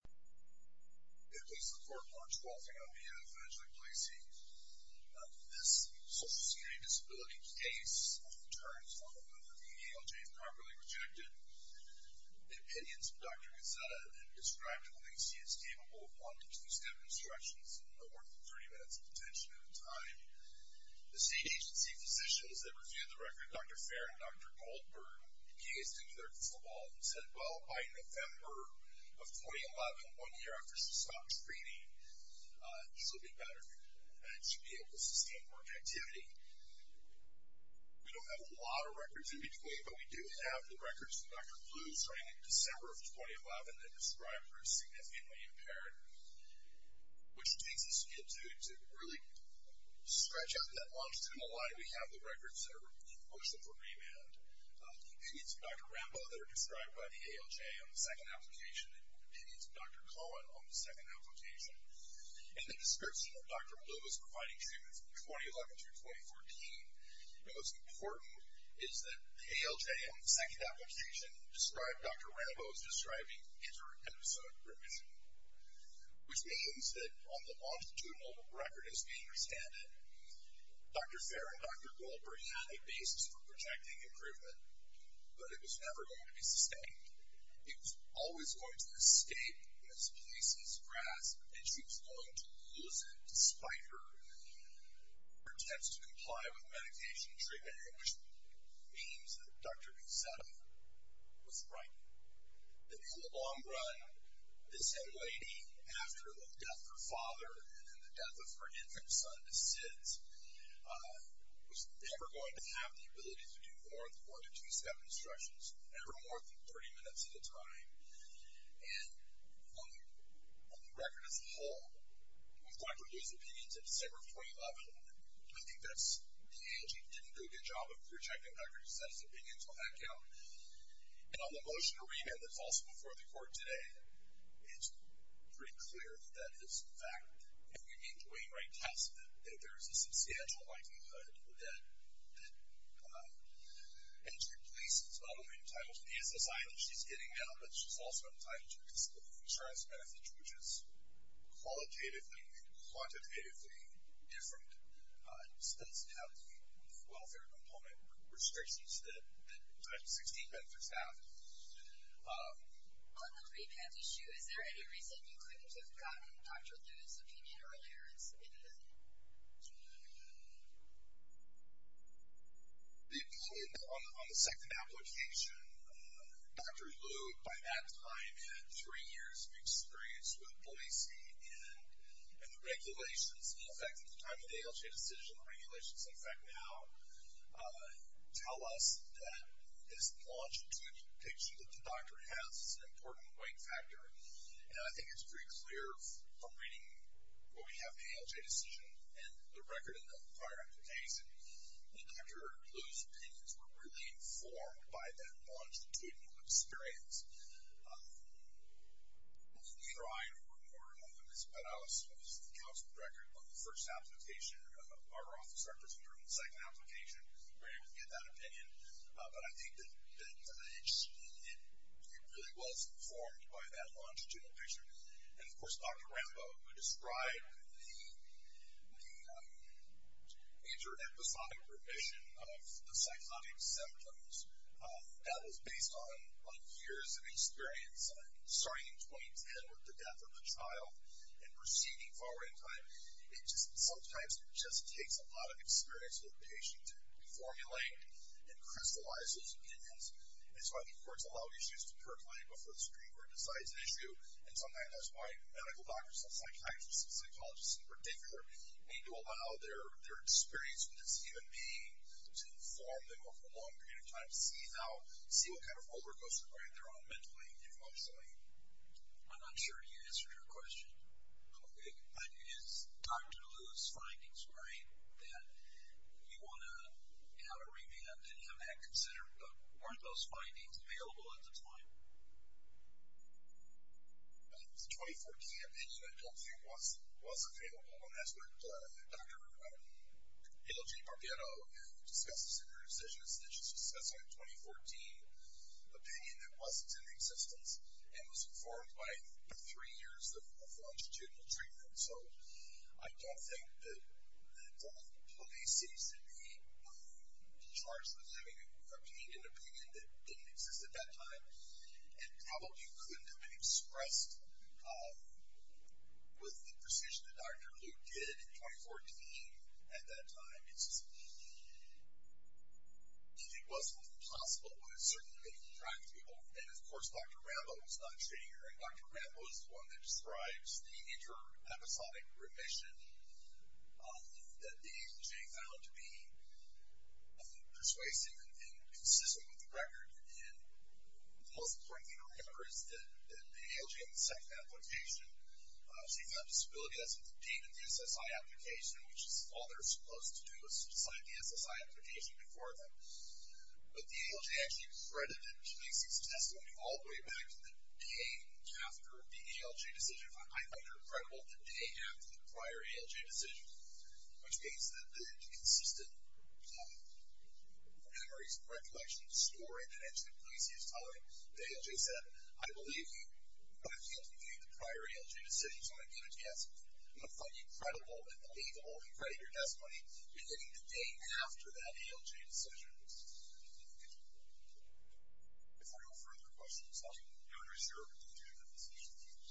It is the 4th March, 2010. I'm D.F. Angelic Pallesi. This social security disability case turns on whether the ALJ is properly projected. The opinions of Dr. Gazzetta and Ms. Dr. Pallesi is capable of one to two step instructions that are worth 30 minutes of attention at a time. The state agency physicians that reviewed the record, Dr. Farron and Dr. Goldberg, gazed into their crystal ball and said, Well, by November of 2011, one year after she stopped speeding, this would be better. And she would be able to sustain more activity. We don't have a lot of records in between, but we do have the records from Dr. Blue starting in December of 2011 that described her as significantly impaired, which takes us into, to really scratch out that longitudinal line. We have the records that are, books that were remanned. Opinions of Dr. Rambo that are described by the ALJ on the second application. Opinions of Dr. Cohen on the second application. And the dispersion of Dr. Blue's providing statements from 2011 through 2014. And what's important is that the ALJ on the second application described Dr. Rambo as describing inter-episode remission, which means that on the longitudinal record as being restanded, Dr. Fair and Dr. Goldberg had a basis for projecting improvement, but it was never going to be sustained. It was always going to escape Ms. Plessy's grasp, and she was going to lose it, despite her attempts to comply with medication treatment, which means that Dr. Pizzetto was right. That in the long run, this young lady, after the death of her father and the death of her infant son to SIDS, was never going to have the ability to do more than four to two step instructions, ever more than 30 minutes at a time. And on the record as a whole, with Dr. Blue's opinions in December of 2011, I think that's the ALJ didn't do a good job of projecting Dr. Pizzetto's opinions on that count. And on the motion to remand that's also before the court today, it's pretty clear that that is a fact. And we need to wait and write tests that there is a substantial likelihood that injured police as well are entitled to the SSI that she's getting now, but she's also entitled to a disability insurance benefit, which is qualitatively and quantitatively different. It does have the welfare component restrictions that Title 16 benefits have. On the remand issue, is there any reason you couldn't have gotten Dr. Blue's opinion earlier? On the second application, Dr. Blue, by that time, had three years of experience with Boise, and the regulations in effect at the time of the ALJ decision, the regulations in effect now, tell us that this longitudinal picture that the doctor has is an important weight factor. And I think it's pretty clear from reading what we have in the ALJ decision and the record of the prior application that Dr. Blue's opinions were really informed by that longitudinal experience. Neither I nor Ms. Perales, who was the counsel to the record on the first application, or our office representative on the second application, were able to get that opinion. But I think that it really was informed by that longitudinal picture. And, of course, Dr. Rambo, who described the inter-episodic revision of the psychotic symptoms, that was based on years of experience, starting in 2010 with the death of the child and proceeding forward in time. Sometimes it just takes a lot of experience with a patient to formulate and crystallize those opinions. And so I think courts allow issues to percolate before the Supreme Court decides an issue. And sometimes that's why medical doctors and psychiatrists and psychologists in particular need to allow their experience with this human being to inform them over a long period of time to see what kind of rollercoaster ride they're on mentally and emotionally. I'm not sure you answered her question. Okay. But is Dr. Liu's findings right that you want to remand and have that considered? Weren't those findings available at the time? The 2014 opinion, I don't think, was available. And that's what Dr. Hildegarde Barbeiro discussed in her decision. She was discussing a 2014 opinion that wasn't in existence and was informed by three years of longitudinal treatment. So I don't think that the police used to be charged with having obtained an opinion that didn't exist at that time and probably couldn't have been expressed with the precision that Dr. Liu did in 2014 at that time. It wasn't possible, but it certainly made it practical. And, of course, Dr. Rambo was not treating her, and Dr. Rambo is the one that describes the inter-episodic remission that the ALJ found to be persuasive and consistent with the record. And the most important thing to remember is that the ALJ in the second application, she found disability. That's what the date in the SSI application, which is all they're supposed to do is to sign the SSI application before them. But the ALJ actually credited the police's testimony all the way back to the day after the ALJ decision. I find her credible the day after the prior ALJ decision, which means that the consistent memories, recollection, and story that Angelique Gleasy is telling, the ALJ said, I believe you, but I can't believe you the prior ALJ decision, so I'm going to give it to you. I'm going to find you credible and believable and credit your testimony beginning the day after that ALJ decision. Thank you. If there are no further questions, I will now reserve the opportunity for questions.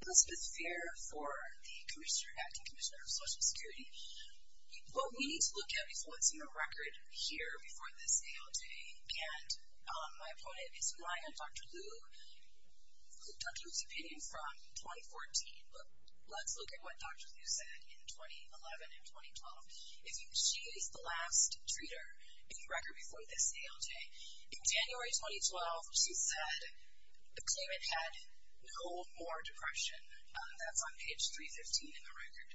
Elizabeth Fair for the Acting Commissioner of Social Security. What we need to look at is what's in the record here before this ALJ, and my opponent is relying on Dr. Liu who took Liu's opinion from 2014, but let's look at what Dr. Liu said in 2011 and 2012. She is the last treater in the record before this ALJ. In January 2012, she said the claimant had no more depression. That's on page 315 in the record.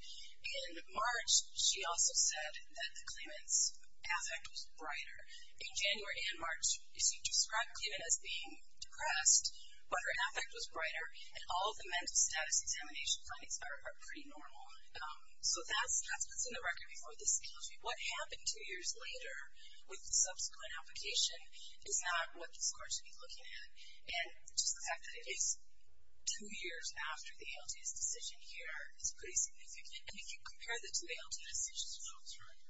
In March, she also said that the claimant's affect was brighter. In January and March, she described the claimant as being depressed, but her affect was brighter, and all of the mental status examination findings are pretty normal. So that's what's in the record before this ALJ. What happened two years later with the subsequent application is not what this Court should be looking at, and just the fact that it is two years after the ALJ's decision here is pretty significant, and if you compare that to the ALJ decision.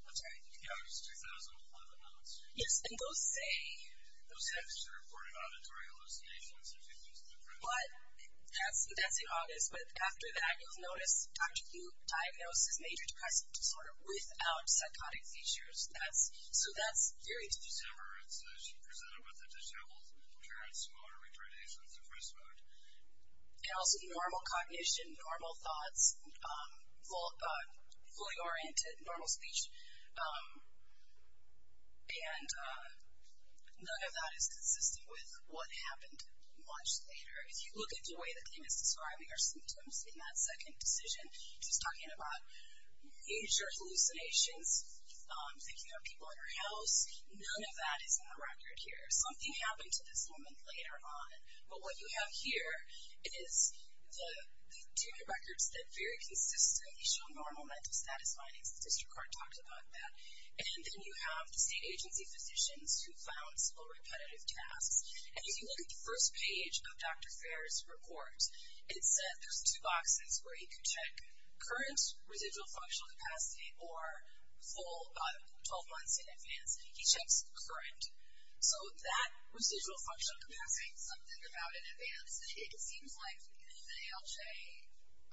That's right. Yes, and those say... But that's in August, but after that you'll notice Dr. Liu diagnosed as major depressive disorder without psychotic features, so that's very different. And also normal cognition, normal thoughts, fully oriented, normal speech, and none of that is consistent with what happened much later. If you look at the way the claimant's describing her symptoms in that second decision, she's talking about major hallucinations, thinking of people in her house. None of that is in the record here. Something happened to this woman later on, but what you have here is the two records that very consistently show normal mental status findings. The district court talked about that, and then you have the state agency physicians who found several repetitive tasks, and if you look at the first page of Dr. Fair's report, it said there's two boxes where he can check current residual functional capacity or full 12 months in advance. He checks current. So that residual functional capacity. Something about in advance, it seems like the ALJ,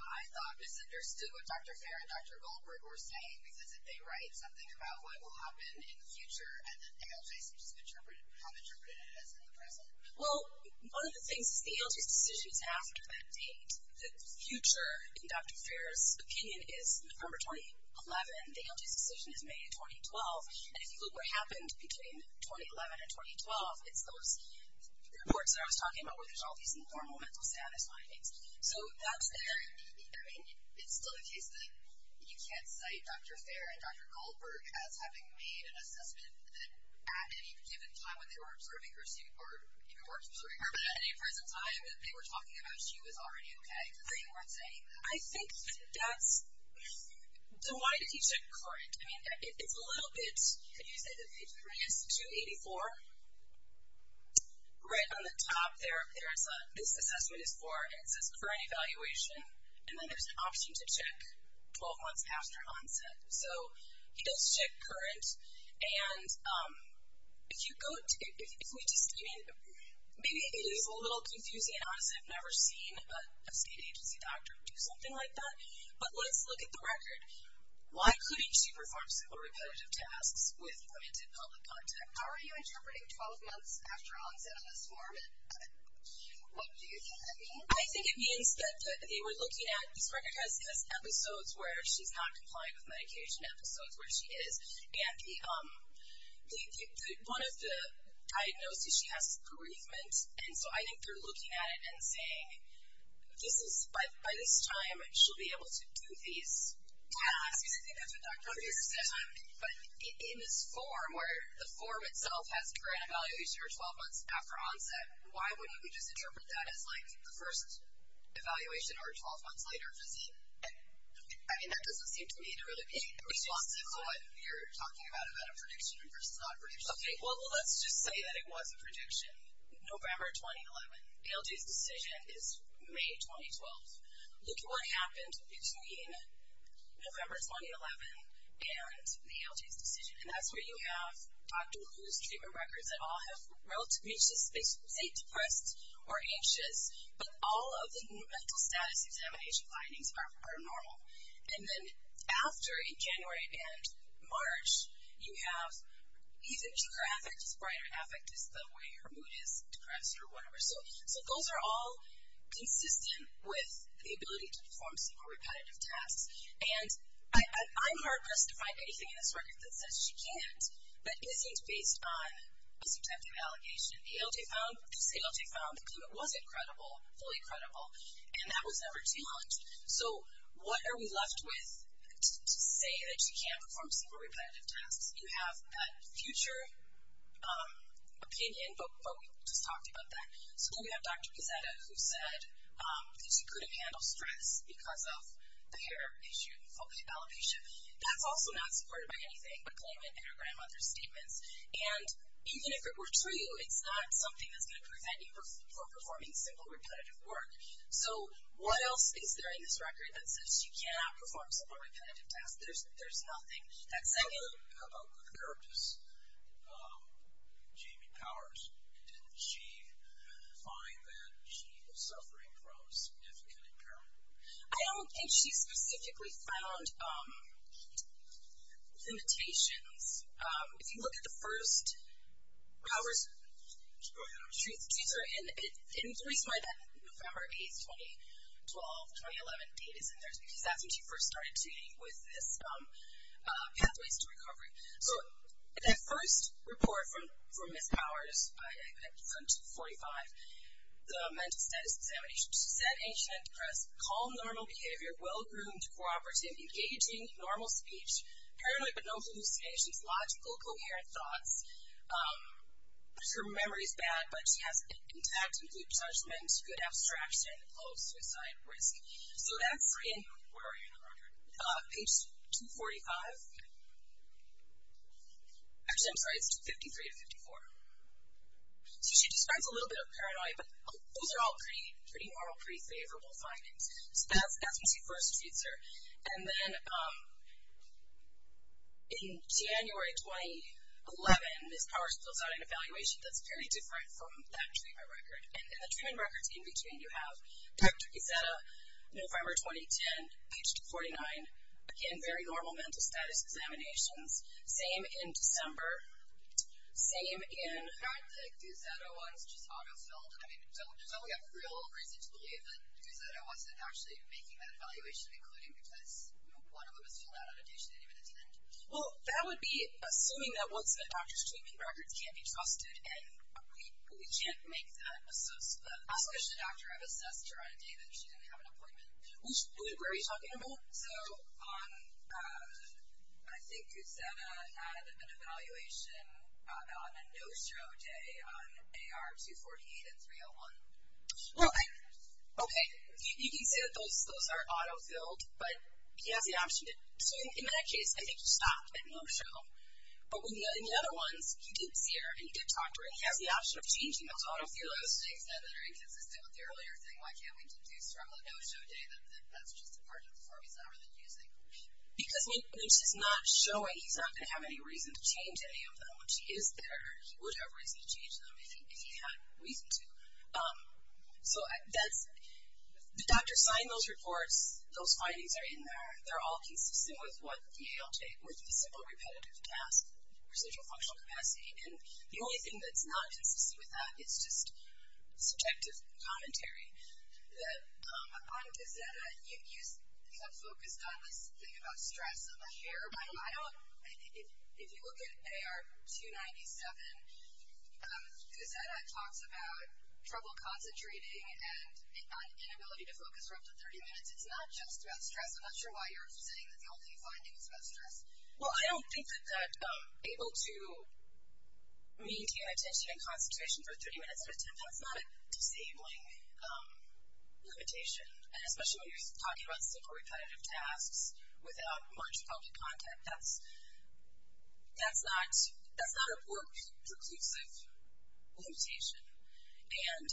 I thought, misunderstood what Dr. Fair and Dr. Goldberg were saying because they write something about what will happen in the future and the ALJ seems to have interpreted it as in the present. Well, one of the things is the ALJ's decision is after that date. The future, in Dr. Fair's opinion, is November 2011. The ALJ's decision is May 2012, and if you look at what happened between 2011 and 2012, it's those reports that I was talking about where there's all these normal mental status findings. So that's there. I mean, it's still the case that you can't cite Dr. Fair and Dr. Goldberg as having made an assessment that at any given time when they were observing her, or even were observing her, but at any present time, that they were talking about she was already okay, because they weren't saying. I think that's, so why did he check current? I mean, it's a little bit, can you say the degree is 284? Right on the top there, this assessment is for, and it says current evaluation, and then there's an option to check 12 months after onset. So he does check current, and if you go, if we just, I mean, maybe it is a little confusing, and honestly I've never seen a state agency doctor do something like that, but let's look at the record. Why couldn't she perform simple repetitive tasks with limited public contact? How are you interpreting 12 months after onset on this form, and what do you think that means? I think it means that they were looking at, this record has episodes where she's not complying with medication, episodes where she is. And one of the diagnoses she has is bereavement, and so I think they're looking at it and saying, by this time she'll be able to do these tasks. But in this form where the form itself has current evaluation or 12 months after onset, why wouldn't we just interpret that as like the first evaluation or 12 months later? I mean, that doesn't seem to me to really be responsive to what you're talking about, about a prediction versus not a prediction. Okay, well, let's just say that it was a prediction. November 2011. ALJ's decision is May 2012. Look at what happened between November 2011 and the ALJ's decision, and that's where you have Dr. Wu's treatment records that all have relatively, they say depressed or anxious, but all of the mental status examination findings are normal. And then after, in January and March, you have either deeper affect or brighter affect is the way her mood is, depressed or whatever. So those are all consistent with the ability to perform single repetitive tasks. And I'm heartless to find anything in this record that says she can't, but isn't based on a subjective allegation. The ALJ found, the ALJ found the treatment was incredible, fully incredible, and that was never challenged. So what are we left with to say that she can't perform single repetitive tasks? You have that future opinion, but we just talked about that. So then we have Dr. Pizzetta who said that she couldn't handle stress because of the hair issue, alopecia. That's also not supported by anything but claimant and her grandmother's statements, and even if it were true, it's not something that's going to prevent you from performing single repetitive work. So what else is there in this record that says she cannot perform single repetitive tasks? There's nothing that's saying. How about the therapist, Jamie Powers? Didn't she find that she was suffering from significant impairment? I don't think she specifically found limitations. If you look at the first hours she's in, it influences why that November 8, 2012, 2011 date is in there, because that's when she first started dealing with this, Pathways to Recovery. So that first report from Ms. Powers, I think it's from 2045, the Mental Status Examination, she said, ancient and depressed, calm, normal behavior, well-groomed, cooperative, engaging, normal speech, paranoid but no hallucinations, logical, coherent thoughts. Her memory is bad, but she has intact and good judgment, good abstraction, low suicide risk. So that's in, where are you in the record? Page 245. Actually, I'm sorry, it's 253 to 254. So she describes a little bit of paranoia, but those are all pretty normal, pretty favorable findings. So that's when she first treats her. And then in January 2011, Ms. Powers fills out an evaluation that's very different from that treatment record. And the treatment records in between, you have Dr. Gazzetta, November 2010, page 49, in very normal mental status examinations. Same in December. Same in. I heard that Gazzetta was just auto-filled. I mean, there's only a real reason to believe that Gazzetta wasn't actually making that evaluation, including because, you know, one of them was filled out on a day she didn't even attend. Well, that would be assuming that once the doctor's treatment records can't be trusted, and we can't make that assessment. Especially the doctor, I've assessed her on a day that she didn't have an appointment. Where are you talking about? So I think Gazzetta had an evaluation on a no-show day on AR 248 and 301. Well, okay. You can say that those are auto-filled, but he has the option to. So in that case, I think you stop at no-show. But in the other ones, he did see her and he did talk to her, and he has the option of changing those auto-fills. The other things that are inconsistent with the earlier thing, why can't we do struggle at no-show day, that that's just a part of the form he's not really using. Because when she's not showing, he's not going to have any reason to change any of them. When she is there, he would have reason to change them, if he had reason to. So the doctor signed those reports. Those findings are in there. They're all consistent with what the ALJ, with the simple repetitive task residual functional capacity. And the only thing that's not consistent with that, it's just subjective commentary. On Gazzetta, you focused on this thing about stress. If you look at AR 297, Gazzetta talks about trouble concentrating and inability to focus for up to 30 minutes. It's not just about stress. I'm not sure why you're saying that the only finding is about stress. Well, I don't think that being able to maintain attention and concentration for 30 minutes at a time, that's not a disabling limitation. And especially when you're talking about simple repetitive tasks without much public contact, that's not a preclusive limitation. And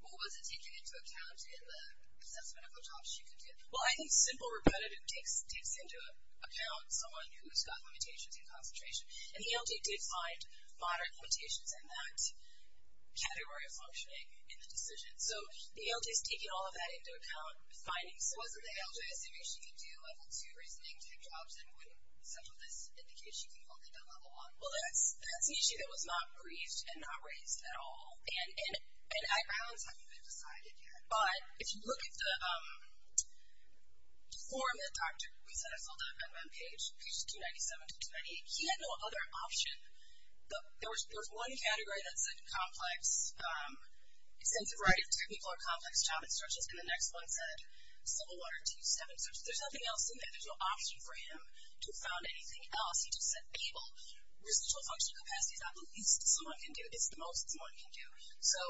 what was it taking into account in the assessment of the job she could do? Well, I think simple repetitive takes into account someone who's got limitations in concentration. And the ALJ did find moderate limitations in that category of functioning in the decision. So the ALJ is taking all of that into account. So wasn't the ALJ assuming she could do Level 2 reasoning-type jobs and wouldn't central this indication to Level 1? Well, that's an issue that was not briefed and not raised at all. And I don't think it's been decided yet. But if you look at the form that Dr. Gazzetta filled up on page 297 to 298, he had no other option. There was one category that said complex, extensive variety of technical or complex job instructions, and the next one said simple one or two, seven. There's nothing else in there. There's no option for him to have found anything else. He just said, able. Residual functional capacity is not the least someone can do. It's the most someone can do. So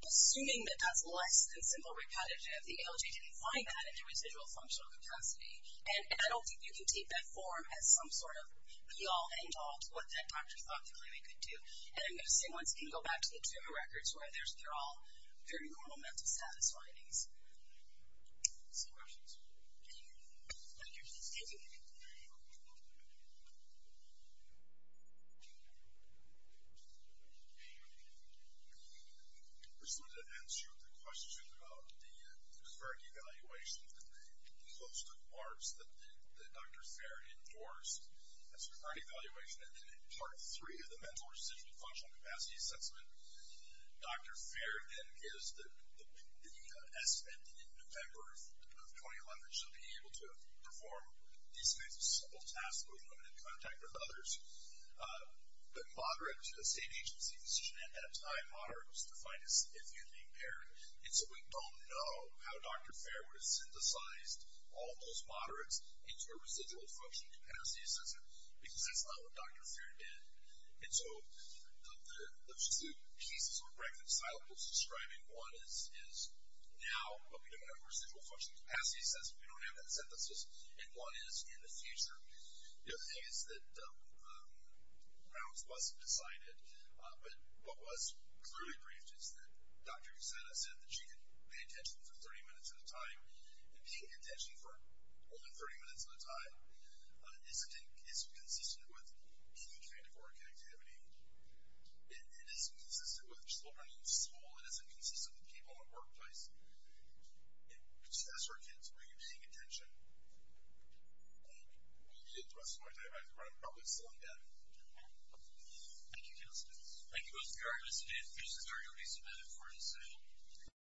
assuming that that's less than simple repetitive, the ALJ didn't find that in the residual functional capacity. And I don't think you can take that form as some sort of be-all, end-all to what that doctor thought the claimant could do. And I'm going to say once again, I'm going to go back to the two records where they're all very normal mental status findings. Any questions? Thank you. Thank you. Thank you. I just wanted to answer the question about the preferred evaluation that the host of BARFs that Dr. Fair endorsed. That's preferred evaluation, and it's part three of the mental residual functional capacity assessment. Dr. Fair then gives the estimate that in November of 2011, she'll be able to perform these kinds of simple tasks with women in contact with others. The moderate state agency decision at that time, moderate was defined as if you're being paired. And so we don't know how Dr. Fair would have synthesized all those moderates into a residual functional capacity assessment because that's not what Dr. Fair did. And so the two pieces or breakfast syllables describing one is now, but we don't have a residual functional capacity assessment. We don't have that synthesis. And one is in the future. The other thing is that now it's less decided, but what was clearly briefed is that Dr. Cassata said that she could pay attention for 30 minutes at a time. And paying attention for only 30 minutes at a time isn't consistent with key kind of work activity. It isn't consistent with children in school. It isn't consistent with people in the workplace. Just ask our kids, are you paying attention? And we'll be at the rest of my time. I'm probably still in bed. Thank you, Counselor. Thank you, Mr. Gargan. This is our notice submitted for the sale.